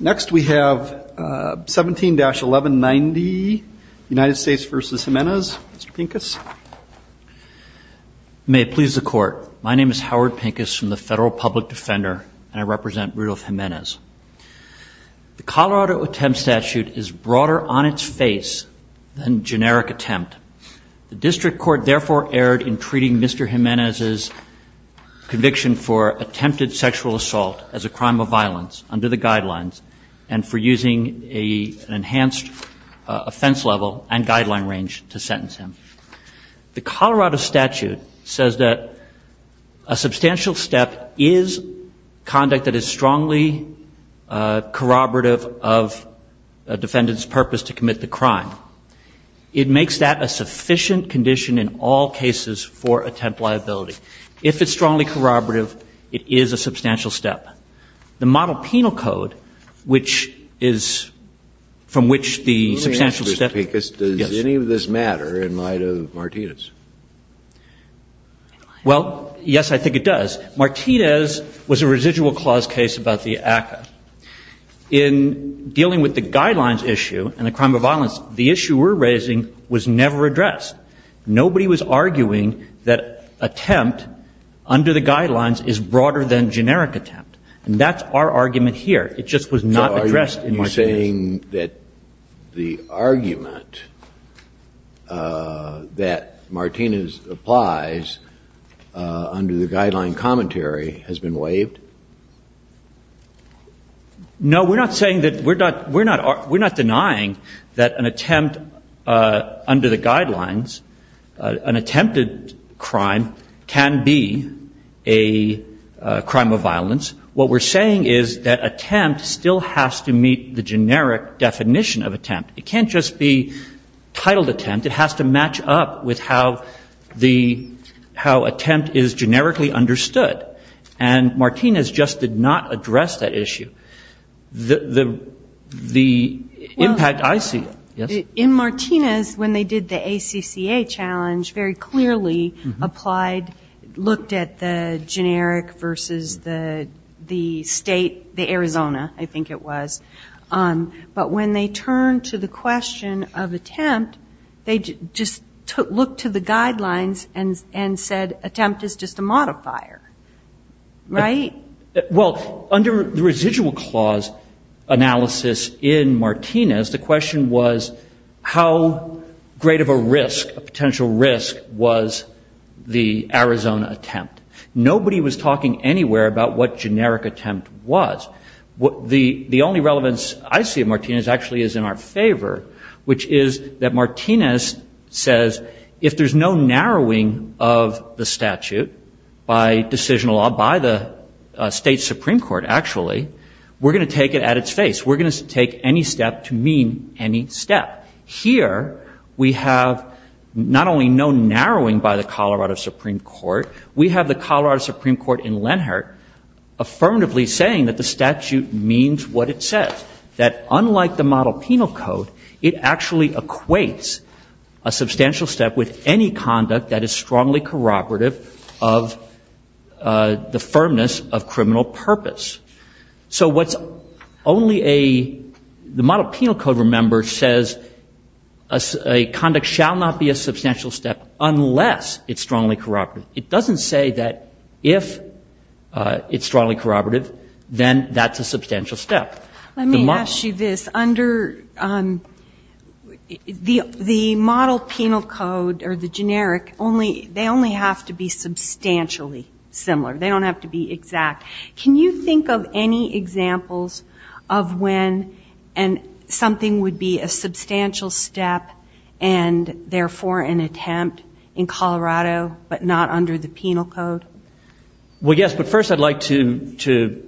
Next we have 17-1190 United States v. Jimenez. Mr. Pincus. May it please the court. My name is Howard Pincus from the Federal Public Defender and I represent Rudolf Jimenez. The Colorado attempt statute is broader on its face than generic attempt. The district court therefore erred in treating Mr. Jimenez's conviction for attempted sexual assault as a crime of violence under the guidelines and for using an enhanced offense level and guideline range to sentence him. The Colorado statute says that a substantial step is conduct that is strongly corroborative of a defendant's purpose to commit the crime. It makes that a sufficient condition in all cases for attempt liability. If it's strongly corroborative, it is a substantial step. The model penal code, which is from which the substantial step. Let me ask you, Mr. Pincus, does any of this matter in light of Martinez? Well, yes, I think it does. Martinez was a residual clause case about the ACCA. In dealing with the guidelines issue and the crime of violence, the issue we're arguing that attempt under the guidelines is broader than generic attempt. And that's our argument here. It just was not addressed in Martinez. So are you saying that the argument that Martinez applies under the guideline commentary has been waived? No, we're not saying that we're not denying that an attempt under the guidelines, an attempted crime, can be a crime of violence. What we're saying is that attempt still has to meet the generic definition of attempt. It can't just be titled attempt. It has to match up with how the attempt is generically understood. And Martinez just did not address that issue. The impact I see. In Martinez, when they did the ACCA challenge, very clearly applied, looked at the generic versus the state, the Arizona, I think it was. But when they turned to the question of attempt, they just looked to the guidelines and said attempt is just a modifier. Right? Well, under the residual clause analysis in Martinez, the question was how great of a risk, a potential risk, was the Arizona attempt? Nobody was talking anywhere about what generic attempt was. The only relevance I see of Martinez actually is in our favor, which is that Martinez says if there's no narrowing of the statute by decisional law, by the state Supreme Court actually, we're going to take it at its face. We're going to take any step to mean any step. Here, we have not only no narrowing by the Colorado Supreme Court, we have the Colorado Supreme Court in Lenhart affirmatively saying that the statute means what it says. That unlike the model penal code, it actually equates a strongly corroborative of the firmness of criminal purpose. So what's only a the model penal code, remember, says a conduct shall not be a substantial step unless it's strongly corroborative. It doesn't say that if it's strongly corroborative, then that's a substantial step. Let me ask you this. Under the model penal code or the generic, only the have to be substantially similar. They don't have to be exact. Can you think of any examples of when something would be a substantial step and therefore an attempt in Colorado but not under the penal code? Well, yes. But first I'd like to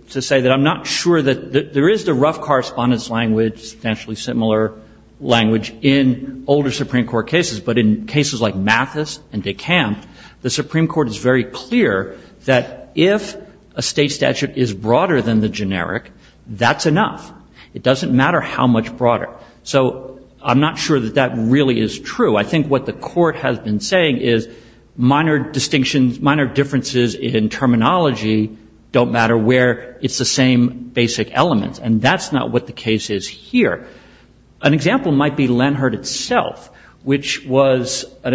say that I'm not sure that there is the rough correspondence language, substantially similar language in older Supreme Court cases. But in cases like Mathis and DeKalb, the Supreme Court is very clear that if a state statute is broader than the generic, that's enough. It doesn't matter how much broader. So I'm not sure that that really is true. I think what the court has been saying is minor distinctions, minor differences in terminology don't matter where it's the same basic elements. And that's not what the case is here. An example might be Lenhardt itself, which was an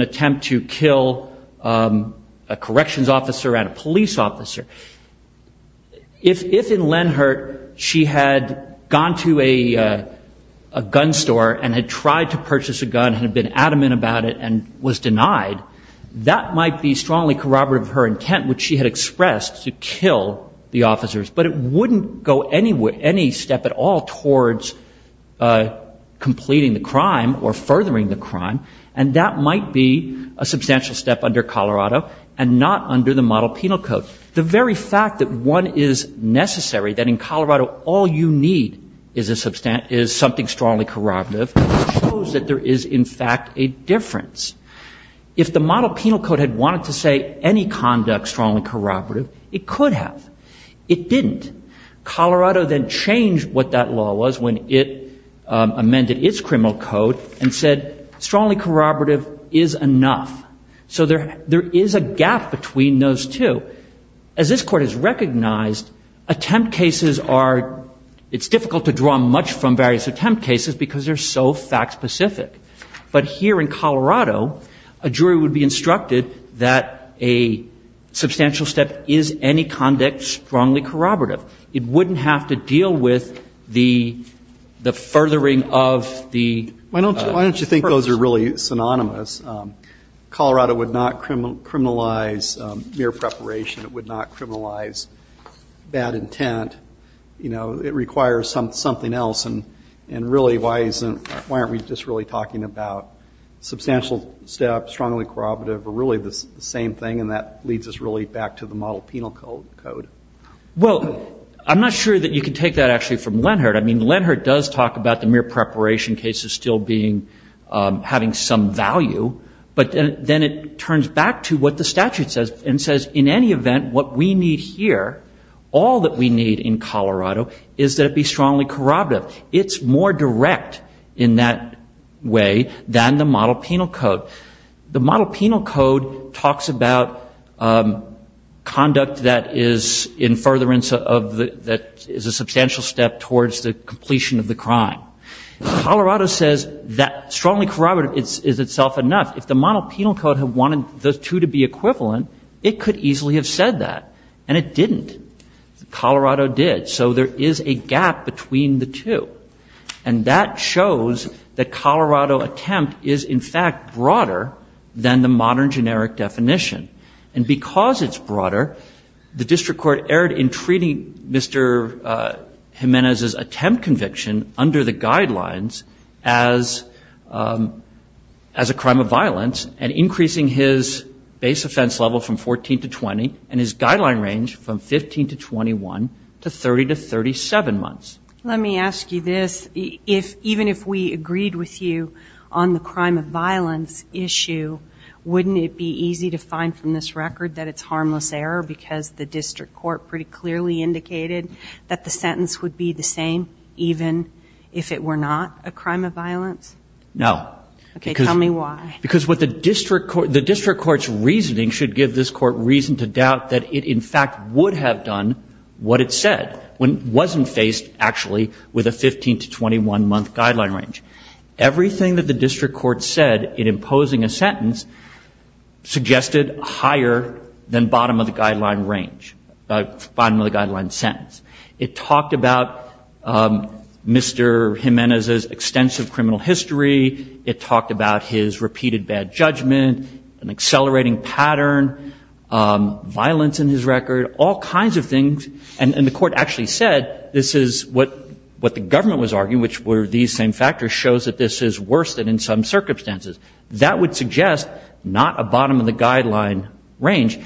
attempt to kill a corrections officer and a police officer. If in Lenhardt she had gone to a gun store and had tried to purchase a gun and had been adamant about it and was denied, that might be strongly corroborative of her intent, which she had expressed, to kill the officer. And that might be a substantial step under Colorado and not under the model penal code. The very fact that one is necessary, that in Colorado all you need is something strongly corroborative, shows that there is, in fact, a difference. If the model penal code had wanted to say any conduct strongly corroborative, it could have. It didn't. Colorado then changed what that law was when they amended its criminal code and said strongly corroborative is enough. So there is a gap between those two. As this court has recognized, attempt cases are, it's difficult to draw much from various attempt cases because they're so fact specific. But here in Colorado, a jury would be instructed that a substantial step is any conduct strongly corroborative. It wouldn't have to deal with the furthering of the first. Why don't you think those are really synonymous? Colorado would not criminalize mere preparation. It would not criminalize bad intent. It requires something else. And really, why aren't we just really talking about substantial steps, strongly corroborative, or really the same thing, and that leads us really back to the model penal code? Well, I'm not sure that you can take that actually from Lenhardt. I mean, Lenhardt does talk about the mere preparation case as still being, having some value. But then it turns back to what the statute says and says, in any event, what we need here, all that we need in Colorado is that it be strongly corroborative. It's more direct in that way than the model penal code. The model penal code talks about conduct that is in furtherance of the, that is a substantial step towards the completion of the crime. Colorado says that strongly corroborative is itself enough. If the model penal code had wanted those two to be different, it didn't. Colorado did. So there is a gap between the two. And that shows that Colorado attempt is, in fact, broader than the modern generic definition. And because it's broader, the district court erred in treating Mr. Jimenez's attempt conviction under the guidelines as a crime of violence and increasing his base offense level from 14 to 20 and his guideline range from 15 to 21 to 30 to 37 months. Let me ask you this. Even if we agreed with you on the crime of violence issue, wouldn't it be easy to find from this record that it's harmless error because the district court pretty clearly indicated that the sentence would be the same even if it were not a crime of violence? The district court's reasoning should give this court reason to doubt that it, in fact, would have done what it said when it wasn't faced, actually, with a 15 to 21-month guideline range. Everything that the district court said in imposing a sentence suggested higher than bottom of the guideline range, bottom of the guideline sentence. It talked about Mr. Jimenez's extensive criminal history. It talked about his repeated bad judgment, an accelerating pattern, violence in his record, all kinds of things. And the court actually said this is what the government was arguing, which were these same factors, shows that this is worse than in some circumstances. That would suggest not a bottom of the guideline range.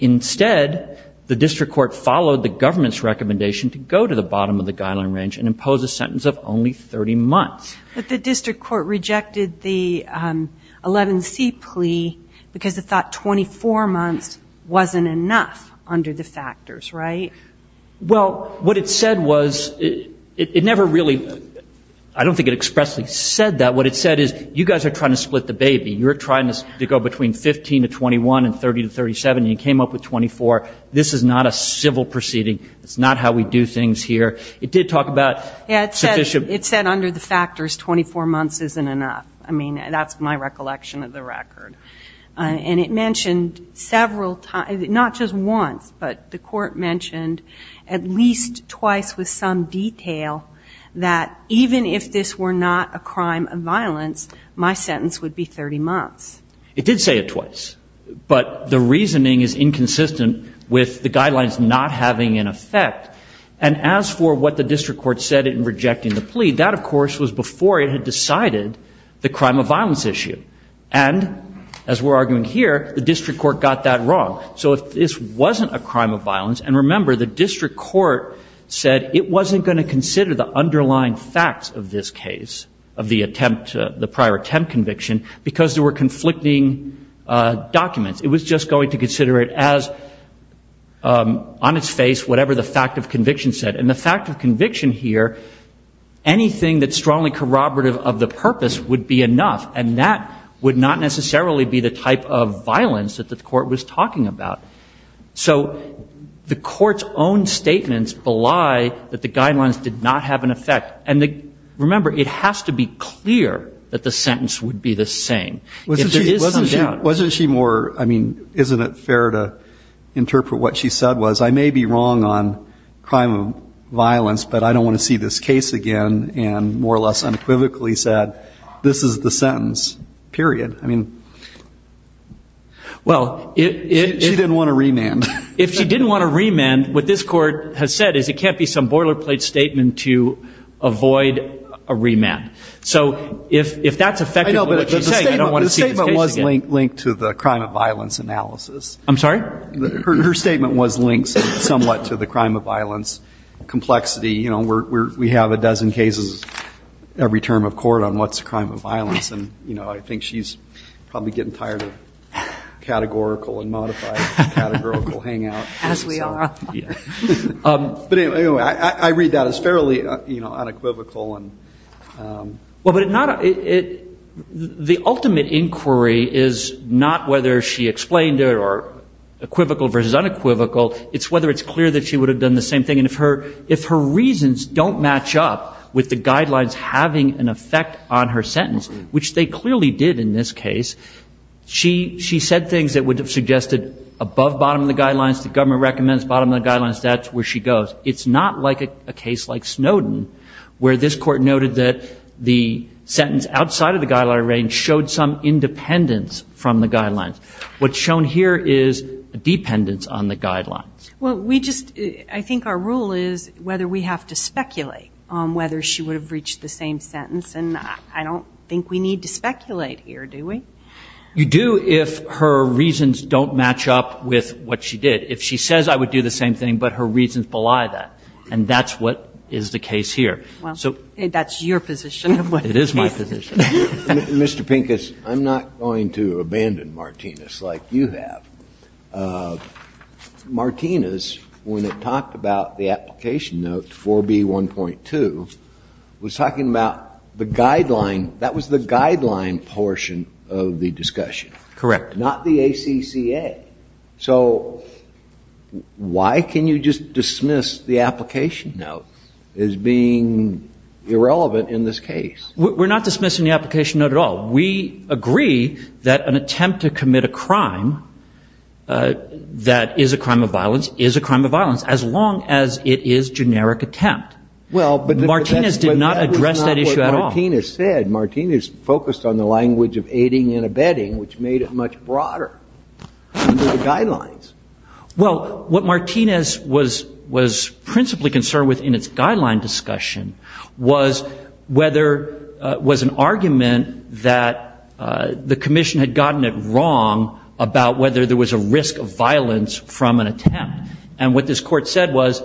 Instead, the district court followed the government's recommendation to go to the bottom of the guideline range and impose a sentence of only 30 months. But the district court rejected the 11C plea because it thought 24 months wasn't enough under the factors, right? Well, what it said was, it never really, I don't think it expressly said that. What it said is you guys are trying to split the baby. You're trying to go between 15 to 21 and 30 to 37 and you came up with 24. This is not a civil proceeding. It's not how we do things here. It did talk about sufficient. It said under the factors, 24 months isn't enough. I mean, that's my recollection of the record. And it mentioned several, not just once, but the court mentioned at least twice with some detail that even if this were not a crime of violence, my sentence would be 30 months. It did say it twice. But the reasoning is inconsistent with the guidelines not having an effect. And as for what the district court said in rejecting the plea, that, of course, was before it had decided the crime of violence issue. And as we're arguing here, the district court got that wrong. So if this wasn't a crime of violence, and remember, the district court said it wasn't going to consider the underlying facts of this case, of the prior attempt conviction, because there were conflicting documents. It was just going to consider it as, on its face, whatever the fact of conviction said. And the fact of conviction here, anything that's strongly corroborative of the purpose would be enough. And that would not necessarily be the type of violence that the court was talking about. So the court's own statements belie that the guidelines did not have an effect. And remember, it has to be clear that the sentence would be the same. If there is some doubt. Wasn't she more, I mean, isn't it fair to interpret what she said was, I may be wrong on crime of violence, but I don't want to see this case again. And more or less unequivocally said, this is the sentence, period. She didn't want a remand. If she didn't want a remand, what this court has said is it can't be some boilerplate statement to avoid a remand. So if that's effectively what she's saying, I don't want to see this case again. The statement was linked to the crime of violence analysis. I'm sorry? Her statement was linked somewhat to the crime of violence complexity. You know, we have a dozen cases every term of court on what's a crime of violence. And, you know, I think she's probably getting tired of categorical and modified categorical hangout. As we are. But anyway, I read that as fairly unequivocal. Well, but it not, the ultimate inquiry is not whether she explained it or equivocal versus unequivocal. It's whether it's clear that she would have done the same thing. And if her reasons don't match up with the guidelines having an effect on her sentence, which they clearly did in this case, she said things that would have suggested above bottom of the guidelines, the government recommends bottom of the guidelines, that's where she goes. It's not like a case like Snowden, where this court noted that the sentence outside of the guideline range showed some independence from the guidelines. What's shown here is dependence on the guidelines. Well, we just, I think our rule is whether we have to speculate on whether she would have reached the same sentence. And I don't think we need to speculate here, do we? You do if her reasons don't match up with what she did. If she says I would do the same thing, but her reasons belie that. And that's what is the case here. Well, that's your position. It is my position. Mr. Pincus, I'm not going to abandon Martinez like you have. Martinez, when it talked about the application note 4B1.2, was talking about the guideline, that was the guideline portion of the application. Correct. Not the ACCA. So why can you just dismiss the application note as being irrelevant in this case? We're not dismissing the application note at all. We agree that an attempt to commit a crime that is a crime of violence is a crime of violence, as long as it is generic attempt. Well, but that's not what Martinez said. Martinez focused on the language of aiding and abetting, which made it much broader under the guidelines. Well, what Martinez was principally concerned with in its guideline discussion was whether, was an argument that the commission had gotten it wrong about whether there was a risk of violence from an attempt. And what this court said was,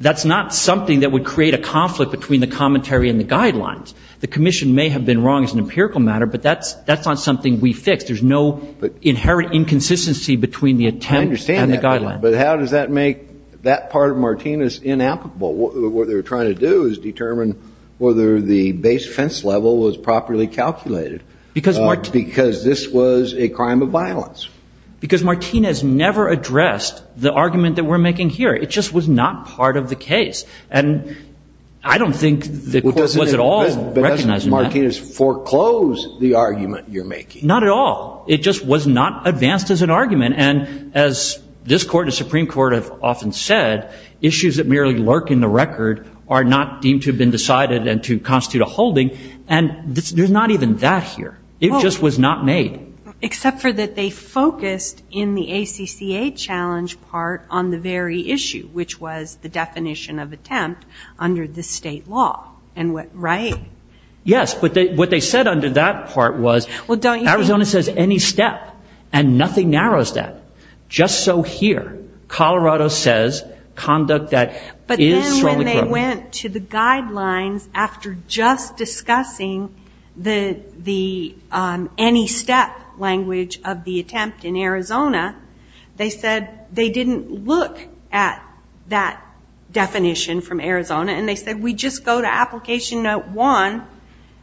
that's not something that would create a conflict between the commentary and the guidelines. The commission may have been wrong as an empirical matter, but that's not something we fixed. There's no inherent inconsistency between the attempt and the guideline. I understand that, but how does that make that part of Martinez inapplicable? What they're trying to do is determine whether the base fence level was properly calculated. Because this was a crime of violence. Because Martinez never addressed the argument that we're making here. It just was not part of the case. And I don't think the court was at all recognizing that. But doesn't Martinez foreclose the argument you're making? Not at all. It just was not advanced as an argument. And as this Court and Supreme Court have often said, issues that merely lurk in the record are not deemed to have been decided and to constitute a holding. And there's not even that here. It just was not made. Well, except for that they focused in the ACCA challenge part on the very issue, which was the definition of a defense. And that was the definition of an attempt under the state law, right? Yes, but what they said under that part was, Arizona says any step. And nothing narrows that. Just so here, Colorado says conduct that is solely criminal. But then when they went to the guidelines after just discussing the any step language of the attempt in Arizona, and they said, we just go to application note one,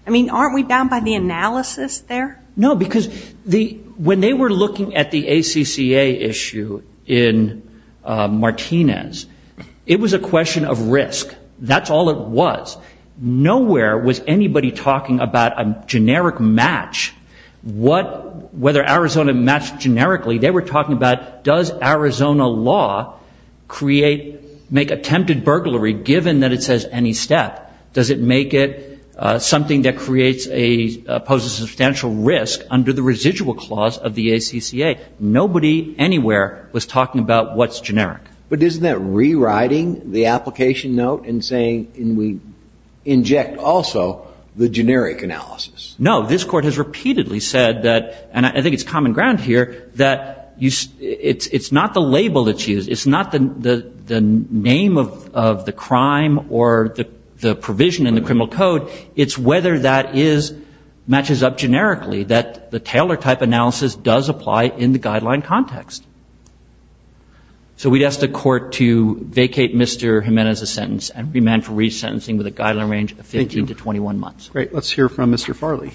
I mean, aren't we bound by the analysis there? No, because when they were looking at the ACCA issue in Martinez, it was a question of risk. That's all it was. Nowhere was anybody talking about a generic match, whether Arizona matched generically. They were talking about, does Arizona law create, make attempted burglary go ahead? Or given that it says any step, does it make it something that creates a, poses a substantial risk under the residual clause of the ACCA? Nobody anywhere was talking about what's generic. But isn't that rewriting the application note and saying, and we inject also the generic analysis? No, this Court has repeatedly said that, and I think it's common ground here, that it's not the label that's used. It's not the name of the crime or the provision in the criminal code. It's whether that is, matches up generically, that the Taylor type analysis does apply in the guideline context. So we'd ask the Court to vacate Mr. Jimenez's sentence and remand for resentencing with a guideline range of 15 to 21 months. Great, let's hear from Mr. Farley.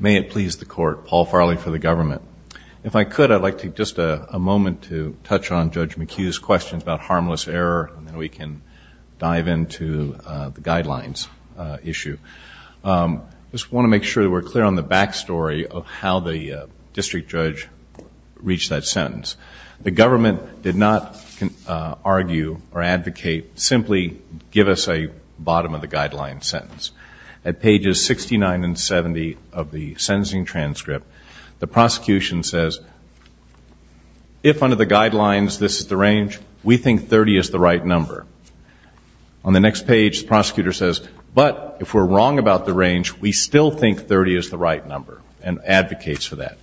May it please the Court, Paul Farley for the government. If I could, I'd like to take just a moment to touch on Judge McHugh's questions about harmless error, and then we can dive into the guidelines issue. I just want to make sure that we're clear on the back story of how the district judge reached that sentence. The government did not argue or advocate, simply give us a bottom of the guideline sentence. At pages 69 and 70 of the sentencing transcript, the prosecution says, if under the guidelines this is the range, we think 30 is the right number. On the next page, the prosecutor says, but if we're wrong about the range, we still think 30 is the right number, and advocates for that.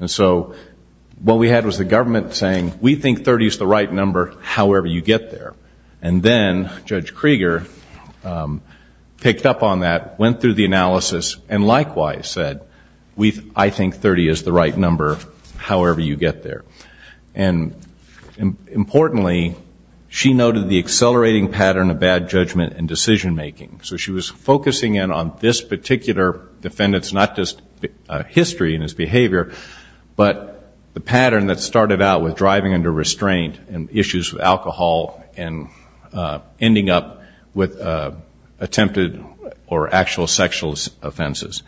And so what we had was the government saying, we think 30 is the right number, however you get there. And then Judge Krieger picked up on that, went through the analysis, and likewise said, I think 30 is the right number, however you get there. And importantly, she noted the accelerating pattern of bad judgment and decision-making. So she was focusing in on this particular defendant's, not just history and his behavior, but the pattern that started out with driving under restraint and issues with alcohol and ending up with attempted or actual sexual offenses.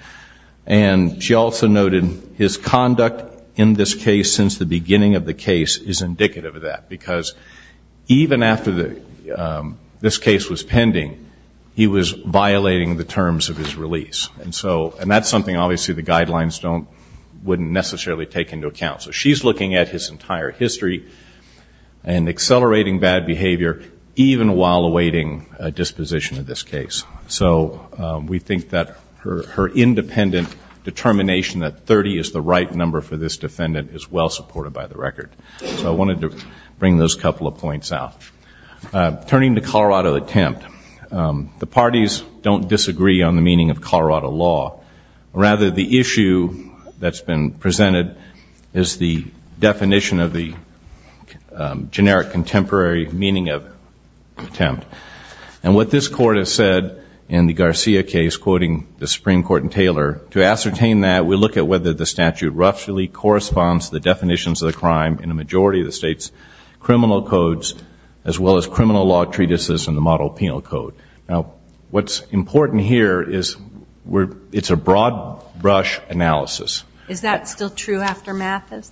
And she also noted his conduct in this case since the beginning of the case is indicative of that, because even after this case was pending, he was violating the terms of his release. And that's something, obviously, the guidelines wouldn't necessarily take into account. So she's looking at his entire history and accelerating bad behavior. Even while awaiting a disposition in this case. So we think that her independent determination that 30 is the right number for this defendant is well-supported by the record. So I wanted to bring those couple of points out. Turning to Colorado attempt, the parties don't disagree on the meaning of Colorado law. Rather, the issue that's been presented is the definition of the generic contemporary meaning of attempt. And what this Court has said in the Garcia case, quoting the Supreme Court in Taylor, to ascertain that, we look at whether the statute roughly corresponds to the definitions of the crime in a majority of the state's criminal codes, as well as criminal law treatises in the model penal code. Now, what's important here is it's a broad-brush analysis. Is that still true after Mathis?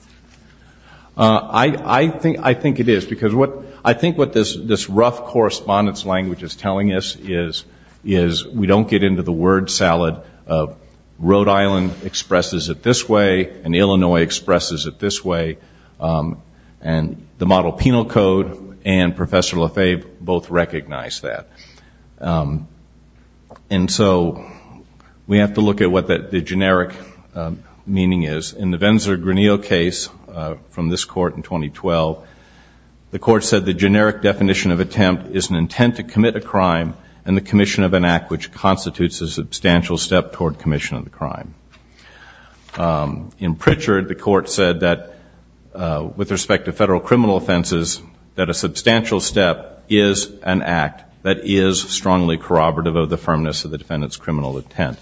I think it is. Because I think what this rough correspondence language is telling us is we don't get into the word salad of Rhode Island expresses it this way, and Illinois expresses it this way. And the model penal code and Professor Lefebvre both recognize that. And so we have to look at what the generic meaning is. In the Venzer-Granillo case from this Court in 2012, the Court said the generic definition of attempt is an intent to commit a crime and the commission of an act which constitutes a substantial step toward commission of the crime. In Pritchard, the Court said that, with respect to federal criminal offenses, that a substantial step is an act that is strongly corroborative of the firmness of the defendant's criminal intent.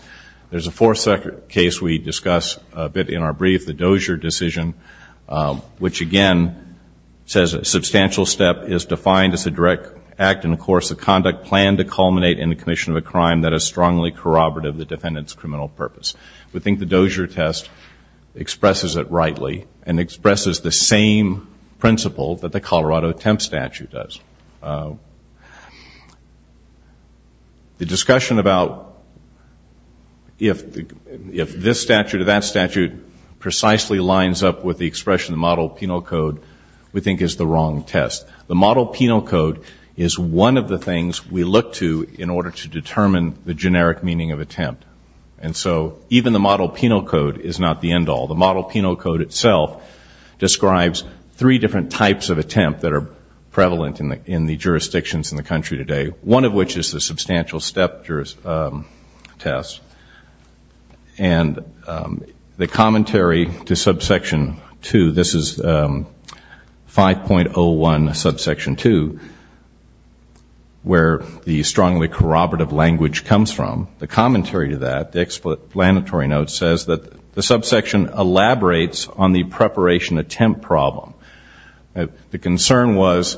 There's a fourth case we discuss a bit in our brief, the Dozier decision, which, again, says a substantial step is defined as a direct act in the course of conduct planned to culminate in the commission of a crime that is strongly corroborative of the defendant's criminal purpose. We think the Dozier test expresses it rightly and expresses the same principle that the Colorado attempt statute does. The discussion about if this statute or that statute precisely lines up with the expression of the model penal code we think is the wrong test. The model penal code is one of the things we look to in order to determine the generic meaning of attempt. And so even the model penal code is not the end all. The model penal code itself describes three different types of attempt that are prevalent in the generic meaning of attempt. The first is the subsection two. This is one of the jurisdictions in the country today, one of which is the substantial step test. And the commentary to subsection two, this is 5.01, subsection two, where the strongly corroborative language comes from. The commentary to that, the explanatory note, says that the subsection elaborates on the preparation attempt problem. The concern was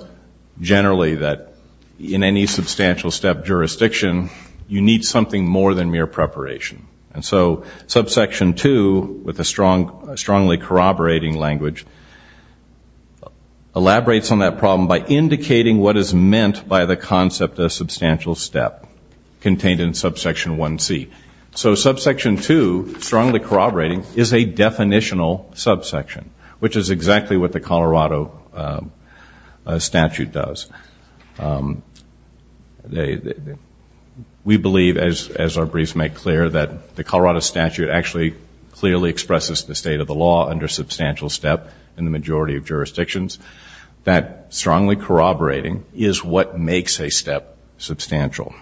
generally that in any substantial step jurisdiction, you need something more than mere preparation. And so subsection two, with the strongly corroborating language, elaborates on that problem by indicating what is meant by the concept of substantial step contained in subsection 1C. So subsection two, strongly corroborating, is a definitional subsection, which is exactly what the concept of substantial step is. It's exactly what the Colorado statute does. We believe, as our briefs make clear, that the Colorado statute actually clearly expresses the state of the law under substantial step in the majority of jurisdictions, that strongly corroborating is what makes a step substantial.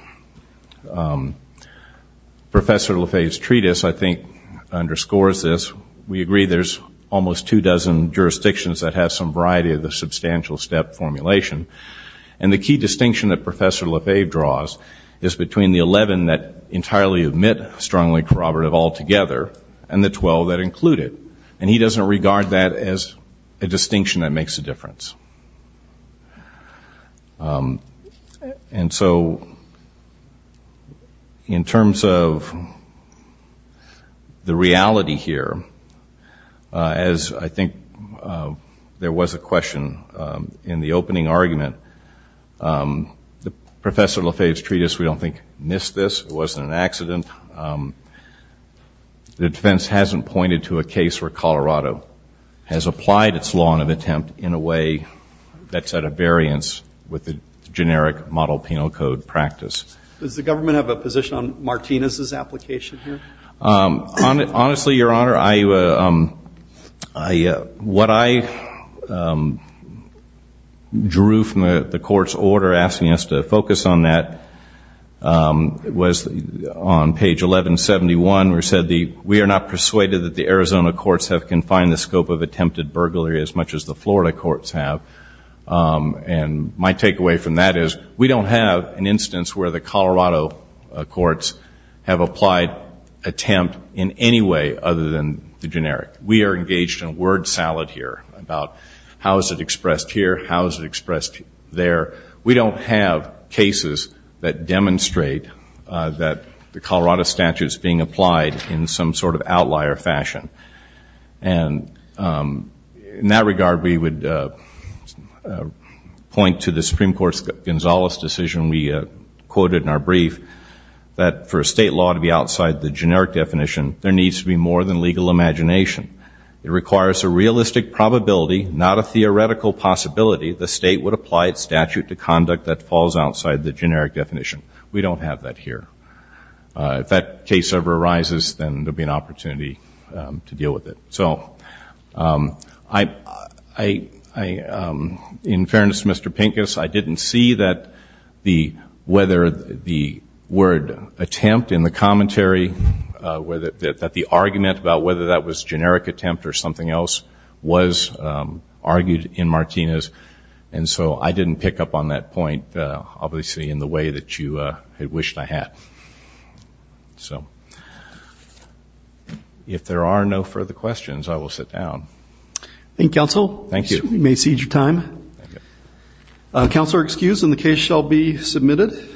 Professor Lafayette's treatise, I think, underscores this. We agree there's almost two dozen jurisdictions that have some variety of the substantial step formulation. And the key distinction that Professor Lafayette draws is between the 11 that entirely omit strongly corroborative altogether and the 12 that include it. And he doesn't regard that as a distinction that makes a difference. As I think there was a question in the opening argument, Professor Lafayette's treatise, we don't think, missed this. It wasn't an accident. The defense hasn't pointed to a case where Colorado has applied its law of attempt in a way that's at a variance with the generic model penal code practice. Does the government have a position on Martinez's application here? Honestly, Your Honor, what I drew from the court's order asking us to focus on that was on page 1171, where it said, we are not persuaded that the Arizona courts have confined the scope of attempted burglary as much as the Florida courts have. And my takeaway from that is, we don't have an instance where the Colorado courts have applied attempted burglary. We don't have an attempt in any way other than the generic. We are engaged in a word salad here about how is it expressed here, how is it expressed there. We don't have cases that demonstrate that the Colorado statute is being applied in some sort of outlier fashion. And in that regard, we would point to the Supreme Court's Gonzales decision we quoted in our brief that for a state law to be applied outside the generic definition, there needs to be more than legal imagination. It requires a realistic probability, not a theoretical possibility, the state would apply its statute to conduct that falls outside the generic definition. We don't have that here. If that case ever arises, then there will be an opportunity to deal with it. So I, in fairness to Mr. Pincus, I didn't see that the, whether the word attempt in the commentary of the state statute that the argument about whether that was generic attempt or something else was argued in Martinez. And so I didn't pick up on that point, obviously, in the way that you had wished I had. So if there are no further questions, I will sit down. Thank you, counsel. Thank you. We may cede your time. Counsel are excused and the case shall be submitted.